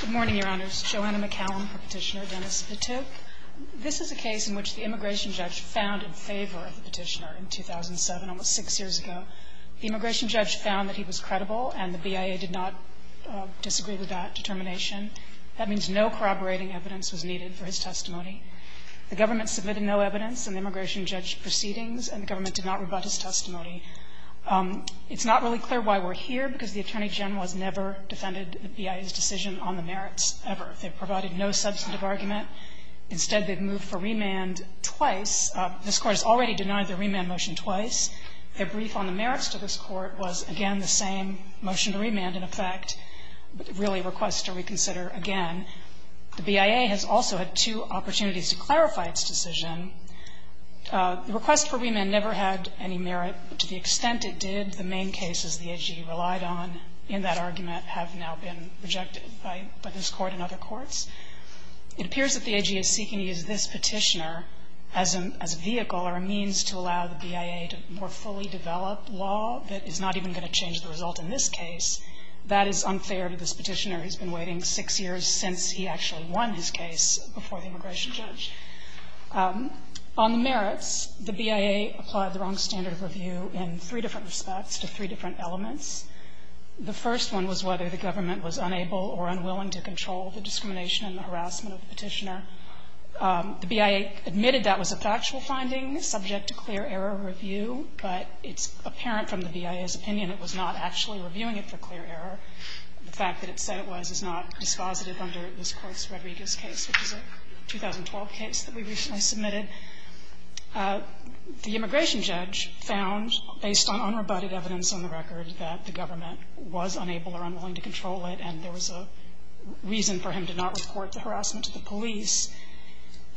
Good morning, Your Honors. Joanna McCallum, Petitioner. Dennis Patuk. This is a case in which the immigration judge found in favor of the petitioner in 2007, almost six years ago. The immigration judge found that he was credible and the BIA did not disagree with that determination. That means no corroborating evidence was needed for his testimony. The government submitted no evidence in the immigration judge proceedings and the government did not rebut his testimony. It's not really clear why we're here, because the Attorney General has never defended the BIA's decision on the merits, ever. They've provided no substantive argument. Instead, they've moved for remand twice. This Court has already denied the remand motion twice. Their brief on the merits to this Court was, again, the same motion to remand, in effect, really requests to reconsider again. The BIA has also had two opportunities to clarify its decision. The request for remand never had any merit. To the extent it did, the main cases the AG relied on in that argument have now been rejected by this Court and other courts. It appears that the AG is seeking to use this petitioner as a vehicle or a means to allow the BIA to more fully develop law that is not even going to change the result in this case. That is unfair to this petitioner. He's been waiting six years since he actually won his case before the immigration judge. On the merits, the BIA applied the wrong standard of review in three different respects to three different elements. The first one was whether the government was unable or unwilling to control the discrimination and the harassment of the petitioner. The BIA admitted that was a factual finding subject to clear error review, but it's apparent from the BIA's opinion it was not actually reviewing it for clear error. The fact that it said it was is not dispositive under this Court's Rodriguez case, which is a 2012 case that we recently submitted. The immigration judge found, based on unrebutted evidence on the record, that the government was unable or unwilling to control it and there was a reason for him to not report the harassment to the police.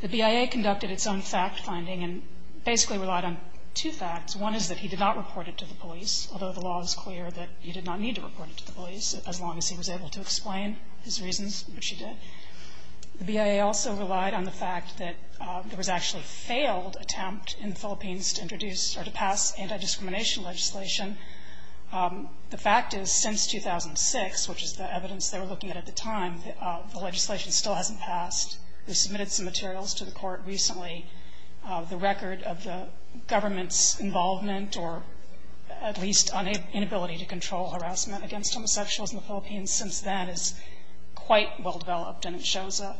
The BIA conducted its own fact-finding and basically relied on two facts. One is that he did not report it to the police, although the law is clear that he did not need to report it to the police as long as he was able to explain his reasons, which he did. The BIA also relied on the fact that there was actually a failed attempt in the Philippines to introduce or to pass anti-discrimination legislation. The fact is, since 2006, which is the evidence they were looking at at the time, the legislation still hasn't passed. We submitted some materials to the Court recently, the record of the government's involvement or at least inability to control harassment against homosexuals in the Philippines since then is quite well developed and it shows a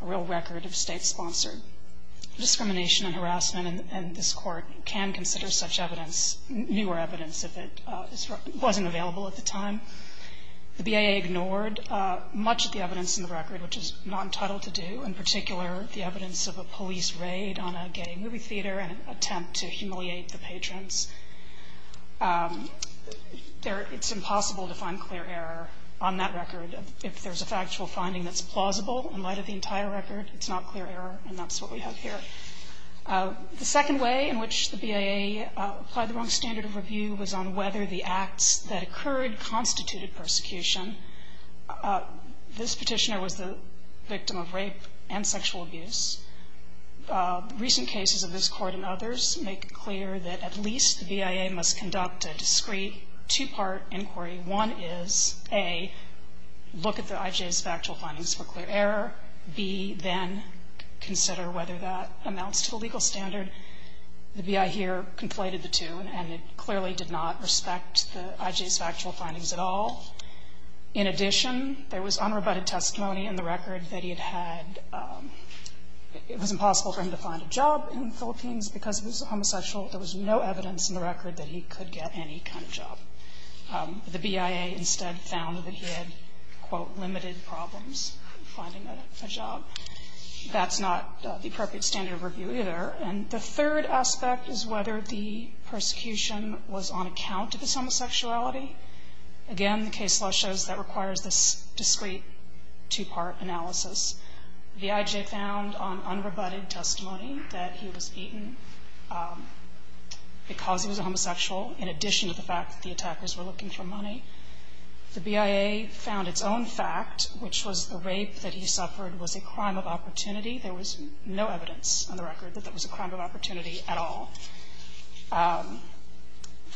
real record of State-sponsored discrimination and harassment, and this Court can consider such evidence, newer evidence, if it wasn't available at the time. The BIA ignored much of the evidence in the record, which is not entitled to do, in particular the evidence of a police raid on a gay movie theater and an attempt to humiliate the patrons. It's impossible to find clear error on that record. If there's a factual finding that's plausible in light of the entire record, it's not clear error, and that's what we have here. The second way in which the BIA applied the wrong standard of review was on whether the acts that occurred constituted persecution. This Petitioner was the victim of rape and sexual abuse. Recent cases of this Court and others make it clear that at least the BIA must conduct a discrete, two-part inquiry. One is, A, look at the IJ's factual findings for clear error. B, then consider whether that amounts to the legal standard. The BIA here conflated the two, and it clearly did not respect the IJ's factual findings at all. In addition, there was unrebutted testimony in the record that he had had, it was impossible for him to find a job in the Philippines because he was homosexual. There was no evidence in the record that he could get any kind of job. The BIA instead found that he had, quote, limited problems finding a job. That's not the appropriate standard of review either. And the third aspect is whether the persecution was on account of his homosexuality. Again, the case law shows that requires this discrete, two-part analysis. The IJ found on unrebutted testimony that he was beaten because he was a homosexual in addition to the fact that the attackers were looking for money. The BIA found its own fact, which was the rape that he suffered was a crime of opportunity. There was no evidence on the record that that was a crime of opportunity at all.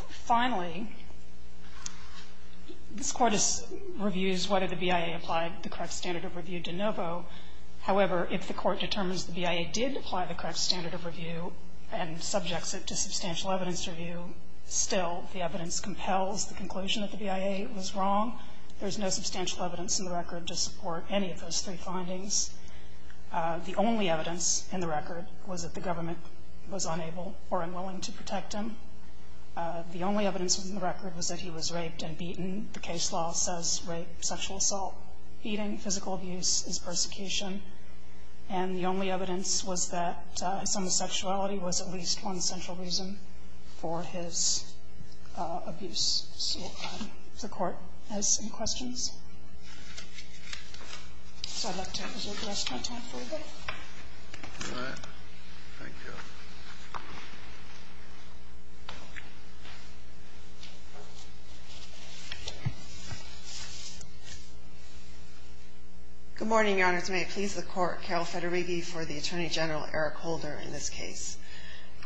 Finally, this Court reviews whether the BIA applied the correct standard of review de novo. However, if the Court determines the BIA did apply the correct standard of review and subjects it to substantial evidence review, still the evidence compels the conclusion that the BIA was wrong. There's no substantial evidence in the record to support any of those three findings. The only evidence in the record was that the government was unable or unwilling to protect him. The only evidence in the record was that he was raped and beaten. The case law says rape, sexual assault, eating, physical abuse is persecution. And the only evidence was that homosexuality was at least one central reason for his abuse. So the Court has some questions. So I'd like to reserve the rest of my time for you both. All right. Thank you. Good morning, Your Honors. May it please the Court, Carol Federighi for the Attorney General Eric Holder in this case.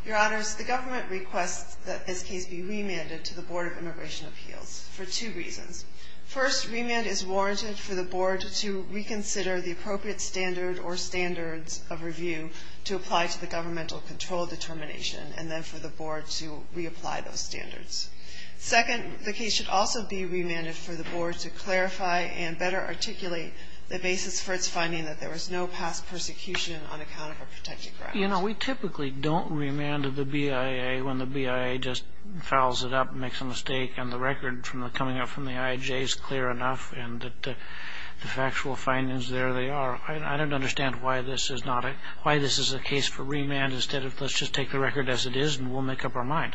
Your Honors, the government requests that this case be remanded to the Board of Immigration Appeals for two reasons. First, remand is warranted for the Board to reconsider the appropriate standard or standards of review to apply to the governmental control determination, and then for the Board to reapply those standards. Second, the case should also be remanded for the Board to clarify and better articulate the basis for its finding that there was no past persecution on account of a protected correctness. You know, we typically don't remand the BIA when the BIA just fouls it up and makes a mistake, and the record coming up from the IAJ is clear enough, and the factual findings, there they are. I don't understand why this is a case for remand instead of let's just take the record as it is and we'll make up our mind.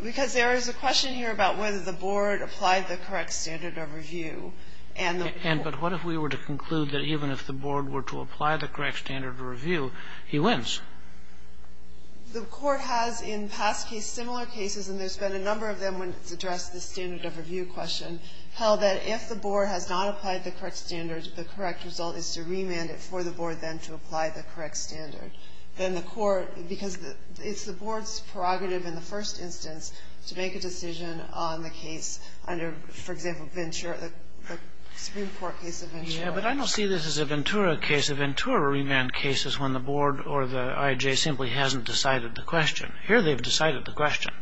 Because there is a question here about whether the Board applied the correct standard of review. And what if we were to conclude that even if the Board were to apply the correct standard of review, he wins? The Court has in past cases, similar cases, and there's been a number of them when it's addressed the standard of review question, held that if the Board has not applied the correct standards, the correct result is to remand it for the Board then to apply the correct standard. Then the Court, because it's the Board's prerogative in the first instance to make a decision on the case under, for example, the Supreme Court case of Ventura. Yeah, but I don't see this as a Ventura case. A Ventura remand case is when the Board or the IAJ simply hasn't decided the question. Here they've decided the question.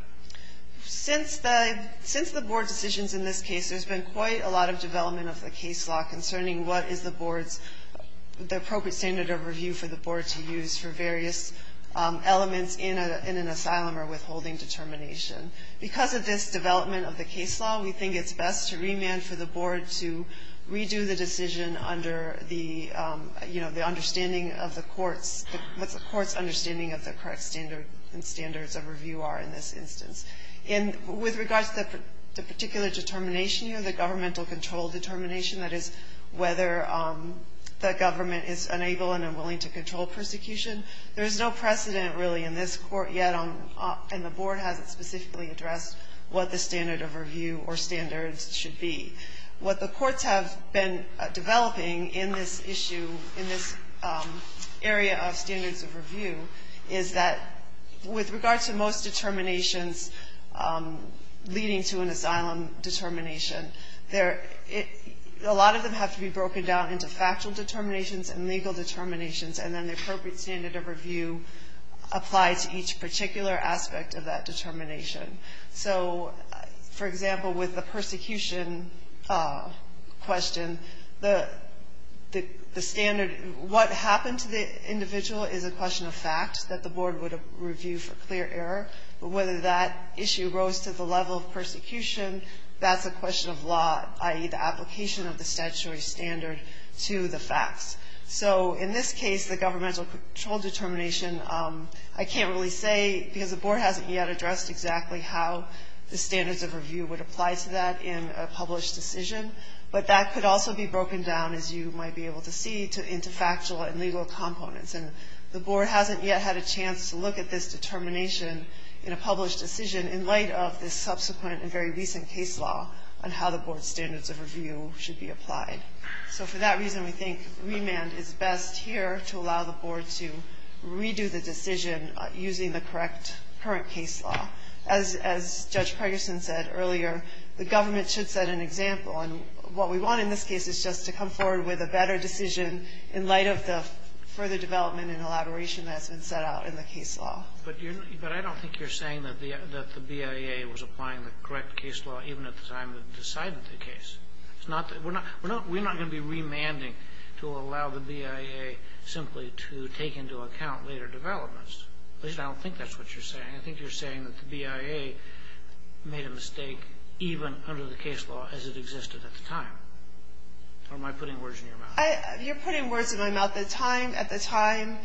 Since the Board decisions in this case, there's been quite a lot of development of the case law concerning what is the Board's, the appropriate standard of review for the Board to use for various elements in an asylum or withholding determination. Because of this development of the case law, we think it's best to remand for the Board to redo the decision under the, you know, the understanding of the Court's, what the Court's understanding of the correct standard and standards of review are in this instance. And with regards to the particular determination here, the governmental control determination, that is whether the government is unable and unwilling to control persecution, there's no precedent really in this Court yet, and the Board hasn't specifically addressed what the standard of review or standards should be. What the Courts have been developing in this issue, in this area of standards of review, is that with regards to most determinations leading to an asylum determination, a lot of them have to be broken down into factual determinations and legal determinations, and then the appropriate standard of review applies to each particular aspect of that determination. So, for example, with the persecution question, the standard, what happened to the individual is a question of fact that the Board would review for clear error, but whether that issue rose to the level of persecution, that's a question of law, i.e., the application of the statutory standard to the facts. So, in this case, the governmental control determination, I can't really say, because the Board hasn't yet addressed exactly how the standards of review would apply to that in a published decision, but that could also be broken down, as you might be able to see, into factual and legal components. And the Board hasn't yet had a chance to look at this determination in a published decision in light of this subsequent and very recent case law on how the Board's standards of review should be applied. So, for that reason, we think remand is best here to allow the Board to redo the decision using the current case law. As Judge Pregerson said earlier, the government should set an example, and what we want in this case is just to come forward with a better decision in light of the further development and elaboration that's been set out in the case law. But I don't think you're saying that the BIA was applying the correct case law even at the time that it decided the case. We're not going to be remanding to allow the BIA simply to take into account later developments. At least, I don't think that's what you're saying. I think you're saying that the BIA made a mistake even under the case law as it existed at the time. Or am I putting words in your mouth? You're putting words in my mouth. At the time,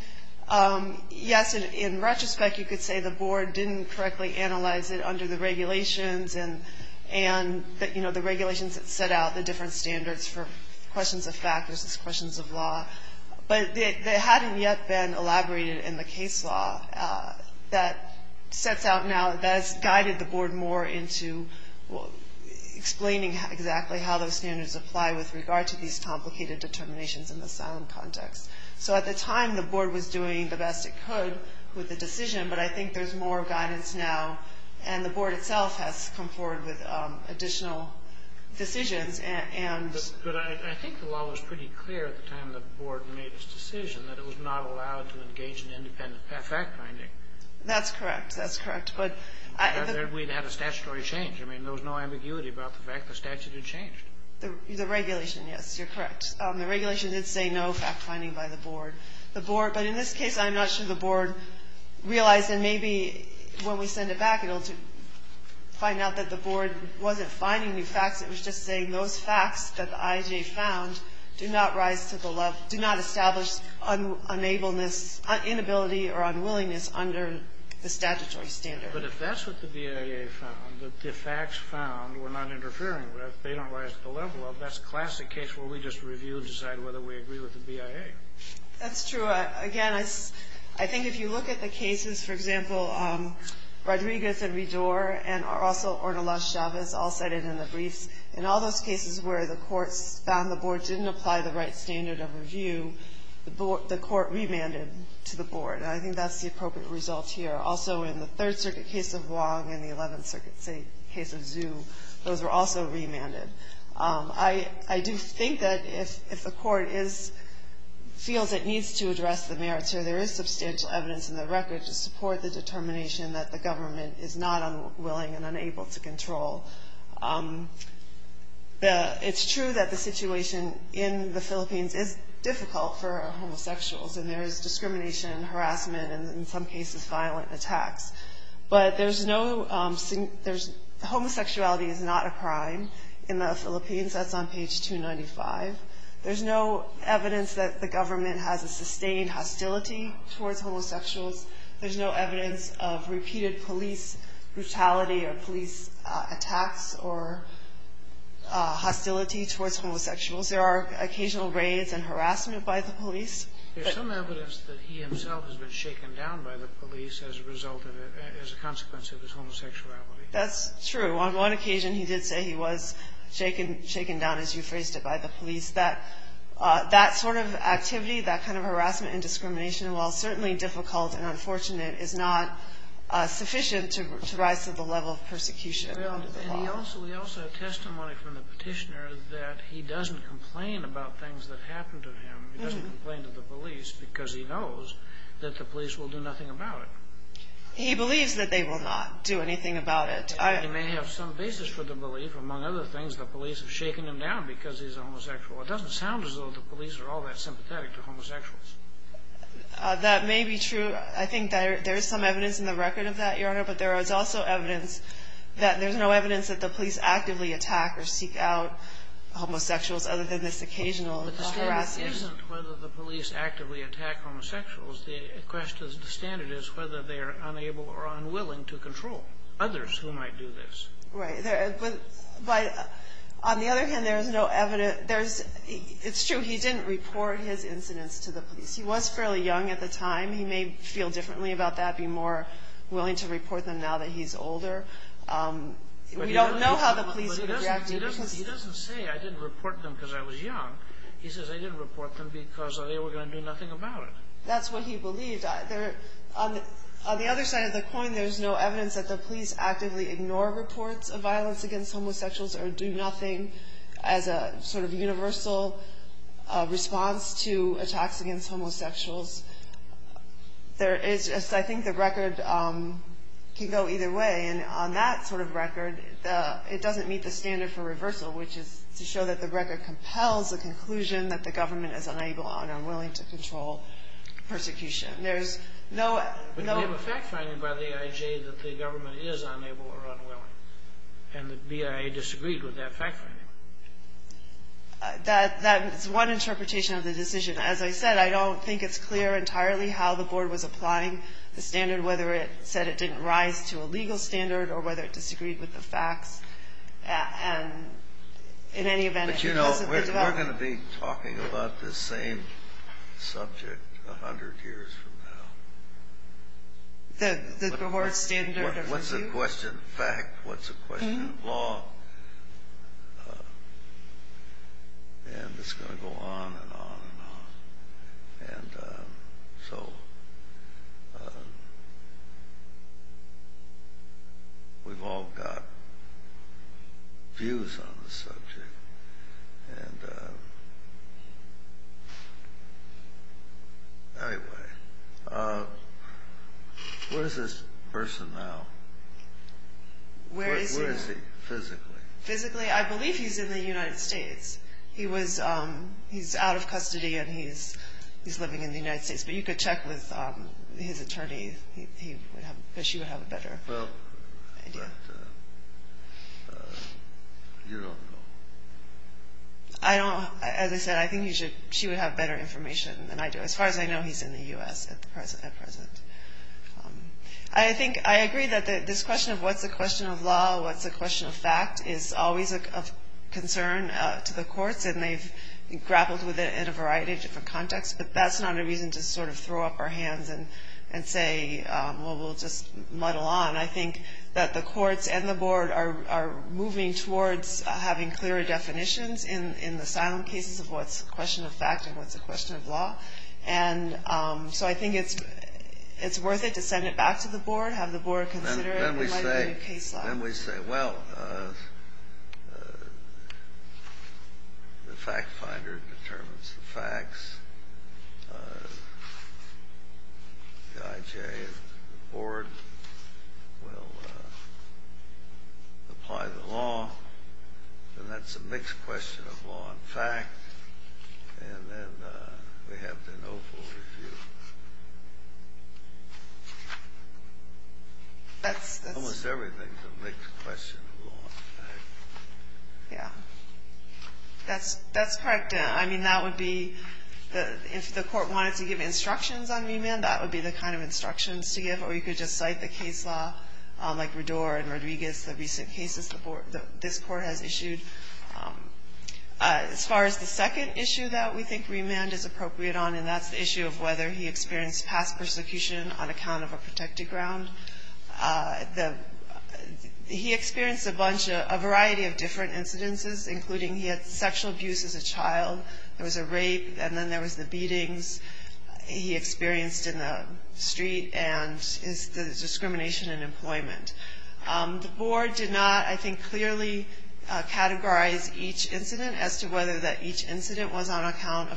yes, in retrospect, you could say the Board didn't correctly analyze it under the regulations and the regulations that set out the different standards for questions of fact versus questions of law. But they hadn't yet been elaborated in the case law that sets out now, that has guided the Board more into explaining exactly how those standards apply with regard to these complicated determinations in the asylum context. So at the time, the Board was doing the best it could with the decision, but I think there's more guidance now, and the Board itself has come forward with additional decisions. But I think the law was pretty clear at the time the Board made its decision that it was not allowed to engage in independent fact-finding. That's correct. That's correct. We'd had a statutory change. I mean, there was no ambiguity about the fact the statute had changed. The regulation, yes, you're correct. The regulation did say no fact-finding by the Board. The Board, but in this case, I'm not sure the Board realized, and maybe when we send it back it'll find out that the Board wasn't finding new facts. It was just saying those facts that the IJA found do not rise to the level, do not establish unableness, inability or unwillingness under the statutory standard. But if that's what the BIA found, that the facts found were not interfering with, they don't rise to the level of, that's a classic case where we just review and decide whether we agree with the BIA. That's true. Again, I think if you look at the cases, for example, Rodriguez and Ridor and also Ornelas-Chavez all cited in the briefs, in all those cases where the courts found the Board didn't apply the right standard of review, the Court remanded to the Board, and I think that's the appropriate result here. Also in the Third Circuit case of Wong and the Eleventh Circuit case of Zhu, those were also remanded. I do think that if the Court feels it needs to address the merits here, there is substantial evidence in the record to support the determination that the government is not unwilling and unable to control. It's true that the situation in the Philippines is difficult for homosexuals, and there is discrimination and harassment and, in some cases, violent attacks. But there's no – homosexuality is not a crime in the Philippines. That's on page 295. There's no evidence that the government has a sustained hostility towards homosexuals. There's no evidence of repeated police brutality or police attacks or hostility towards homosexuals. There are occasional raids and harassment by the police. There's some evidence that he himself has been shaken down by the police as a result of it, as a consequence of his homosexuality. That's true. On one occasion, he did say he was shaken down, as you phrased it, by the police. That sort of activity, that kind of harassment and discrimination, while certainly difficult and unfortunate, is not sufficient to rise to the level of persecution under the law. Well, and he also – we also have testimony from the Petitioner that he doesn't complain about things that happen to him. He doesn't complain to the police because he knows that the police will do nothing about it. He believes that they will not do anything about it. He may have some basis for the belief, among other things, the police have shaken him down because he's a homosexual. It doesn't sound as though the police are all that sympathetic to homosexuals. That may be true. I think there is some evidence in the record of that, Your Honor, but there is also evidence that there's no evidence that the police actively attack or seek out homosexuals other than this occasional harassment. But the standard isn't whether the police actively attack homosexuals. The standard is whether they are unable or unwilling to control others who might do this. Right. But on the other hand, there is no evidence. It's true, he didn't report his incidents to the police. He was fairly young at the time. He may feel differently about that, be more willing to report them now that he's older. We don't know how the police would react to this. He doesn't say, I didn't report them because I was young. He says, I didn't report them because they were going to do nothing about it. That's what he believed. On the other side of the coin, there's no evidence that the police actively ignore reports of violence against homosexuals or do nothing as a sort of universal response to attacks against homosexuals. I think the record can go either way. And on that sort of record, it doesn't meet the standard for reversal, which is to show that the record compels the conclusion that the government is unable and unwilling to control persecution. But you have a fact finding by the AIJ that the government is unable or unwilling, and the BIA disagreed with that fact finding. That is one interpretation of the decision. As I said, I don't think it's clear entirely how the board was applying the standard, and whether it said it didn't rise to a legal standard or whether it disagreed with the facts. And in any event, it wasn't the development. But, you know, we're going to be talking about this same subject 100 years from now. The cohort standard of review? What's the question of fact? What's the question of law? And it's going to go on and on and on. And so we've all got views on the subject. And anyway, where is this person now? Where is he? Physically. Physically? I believe he's in the United States. He's out of custody, and he's living in the United States. But you could check with his attorney, because she would have a better idea. Well, but you don't know. I don't. As I said, I think she would have better information than I do. As far as I know, he's in the U.S. at present. I agree that this question of what's the question of law, what's the question of fact, is always a concern to the courts. And they've grappled with it in a variety of different contexts. But that's not a reason to sort of throw up our hands and say, well, we'll just muddle on. I think that the courts and the board are moving towards having clearer definitions in the silent cases of what's a question of fact and what's a question of law. And so I think it's worth it to send it back to the board, have the board consider it. And then we say, well, the fact finder determines the facts. The IJ and the board will apply the law. And that's a mixed question of law and fact. And then we have the no full review. Almost everything's a mixed question of law and fact. Yeah. That's correct. I mean, that would be the – if the court wanted to give instructions on remand, that would be the kind of instructions to give. Or you could just cite the case law, like Rador and Rodriguez, the recent cases the board – this Court has issued. As far as the second issue that we think remand is appropriate on, and that's the he experienced past persecution on account of a protected ground. He experienced a bunch of – a variety of different incidences, including he had sexual abuse as a child, there was a rape, and then there was the beatings he experienced in the street, and the discrimination in employment. The board did not, I think, clearly categorize each incident as to whether that each incident is found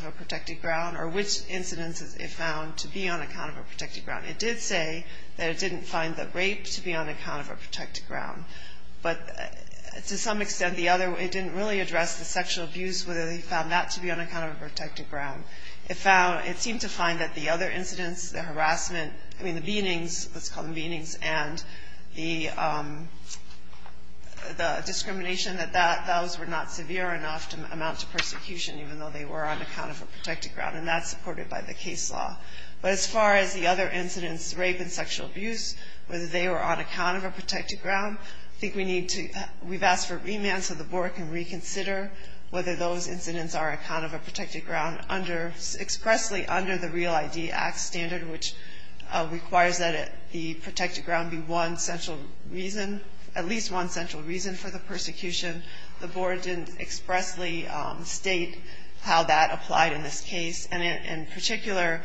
to be on account of a protected ground. It did say that it didn't find the rape to be on account of a protected ground. But to some extent, the other – it didn't really address the sexual abuse, whether they found that to be on account of a protected ground. It found – it seemed to find that the other incidents, the harassment – I mean, the beatings, let's call them beatings, and the discrimination, that those were not severe enough to amount to persecution, even though they were on account of a protected ground, and that's supported by the case law. But as far as the other incidents, rape and sexual abuse, whether they were on account of a protected ground, I think we need to – we've asked for remand so the board can reconsider whether those incidents are on account of a protected ground under – expressly under the Real ID Act standard, which requires that the protected ground be one central reason – at least one central reason for the persecution. The board didn't expressly state how that applied in this case. And in particular,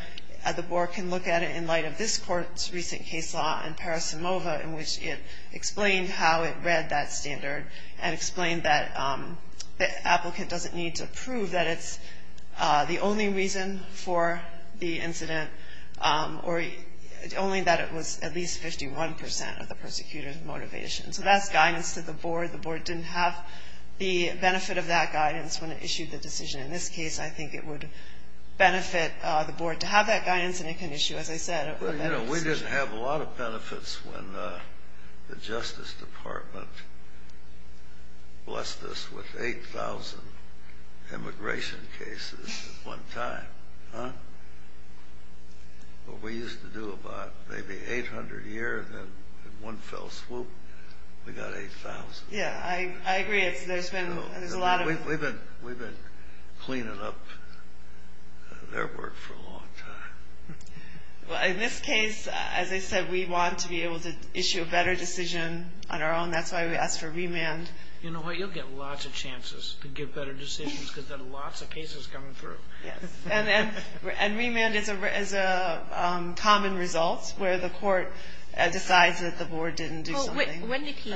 the board can look at it in light of this court's recent case law in Paris and Mova, in which it explained how it read that standard and explained that the applicant doesn't need to prove that it's the only reason for the incident, or only that it was at least 51 percent of the persecutor's motivation. So that's guidance to the board. The board didn't have the benefit of that guidance when it issued the decision. In this case, I think it would benefit the board to have that guidance and it can issue, as I said, a better decision. Well, you know, we didn't have a lot of benefits when the Justice Department blessed us with 8,000 immigration cases at one time. What we used to do about maybe 800 a year, then in one fell swoop, we got 8,000. Yeah, I agree. We've been cleaning up their work for a long time. Well, in this case, as I said, we want to be able to issue a better decision on our own. That's why we asked for remand. You know what? You'll get lots of chances to get better decisions because there are lots of cases coming through. Yes, and remand is a common result where the court decides that the board didn't do something. When did he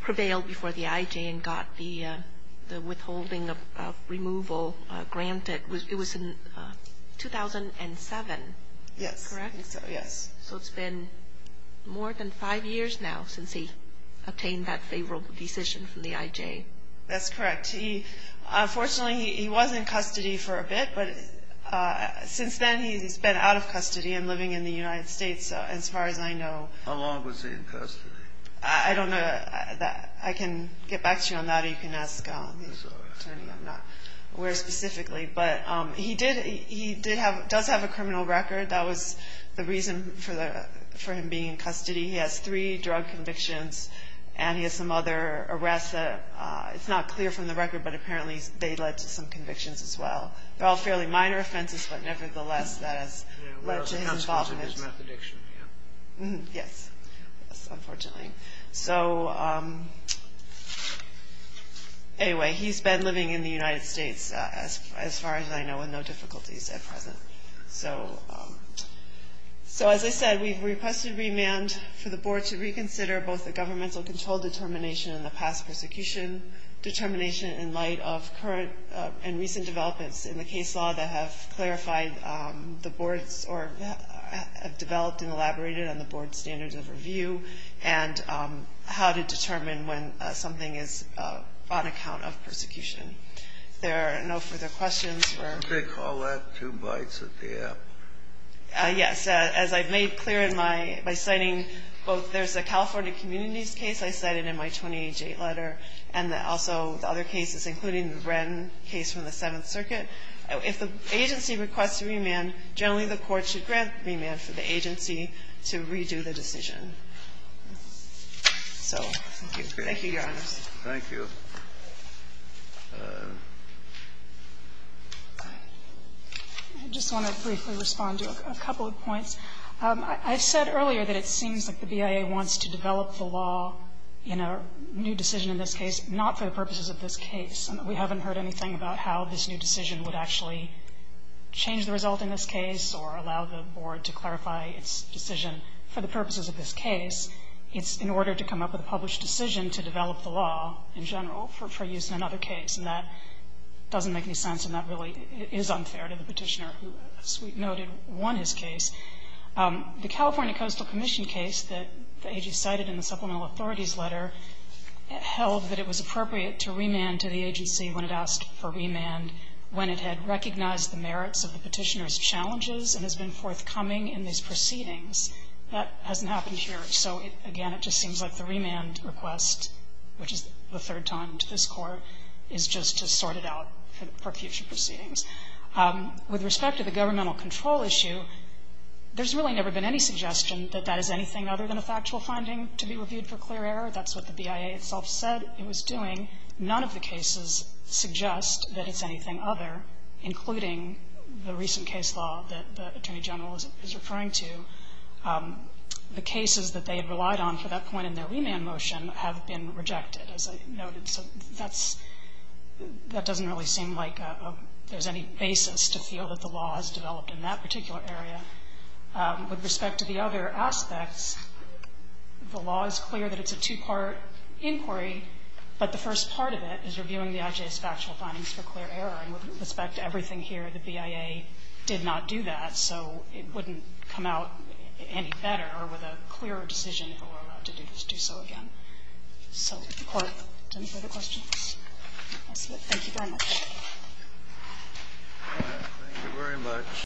prevail before the IJ and got the withholding of removal granted? It was in 2007. Yes. Correct? Yes. So it's been more than five years now since he obtained that favorable decision from the IJ. That's correct. Unfortunately, he was in custody for a bit, but since then he's been out of custody and living in the United States, as far as I know. How long was he in custody? I don't know. I can get back to you on that, or you can ask the attorney. I'm not aware specifically. But he does have a criminal record. That was the reason for him being in custody. He has three drug convictions, and he has some other arrests. It's not clear from the record, but apparently they led to some convictions as well. They're all fairly minor offenses, but nevertheless that has led to his involvement. Yes, unfortunately. So anyway, he's been living in the United States, as far as I know, with no difficulties at present. So as I said, we've requested remand for the board to reconsider both the prosecution determination in light of current and recent developments in the case law that have clarified the board's or have developed and elaborated on the board's standards of review and how to determine when something is on account of persecution. There are no further questions. Take all that two bites at the apple. Yes. As I've made clear by citing both there's a California communities case I and also the other cases, including the Bren case from the Seventh Circuit. If the agency requests remand, generally the court should grant remand for the agency to redo the decision. So thank you. Thank you, Your Honors. Thank you. I just want to briefly respond to a couple of points. I've said earlier that it seems like the BIA wants to develop the law in a new decision in this case, not for the purposes of this case. We haven't heard anything about how this new decision would actually change the result in this case or allow the board to clarify its decision for the purposes of this case. It's in order to come up with a published decision to develop the law in general for use in another case, and that doesn't make any sense and that really is unfair to the petitioner who, as we noted, won his case. The California Coastal Commission case that the agency cited in the Supplemental Authorities Letter held that it was appropriate to remand to the agency when it asked for remand when it had recognized the merits of the petitioner's challenges and has been forthcoming in these proceedings. That hasn't happened here. So, again, it just seems like the remand request, which is the third time to this Court, is just to sort it out for future proceedings. With respect to the governmental control issue, there's really never been any suggestion that that is anything other than a factual finding to be reviewed for clear error. That's what the BIA itself said it was doing. None of the cases suggest that it's anything other, including the recent case law that the Attorney General is referring to. The cases that they had relied on for that point in their remand motion have been rejected, as I noted. So that's – that doesn't really seem like there's any basis to feel that the law has developed in that particular area. With respect to the other aspects, the law is clear that it's a two-part inquiry, but the first part of it is reviewing the IJ's factual findings for clear error. And with respect to everything here, the BIA did not do that. So it wouldn't come out any better or with a clearer decision if it were allowed to do so again. So does the Court have any further questions? Thank you very much.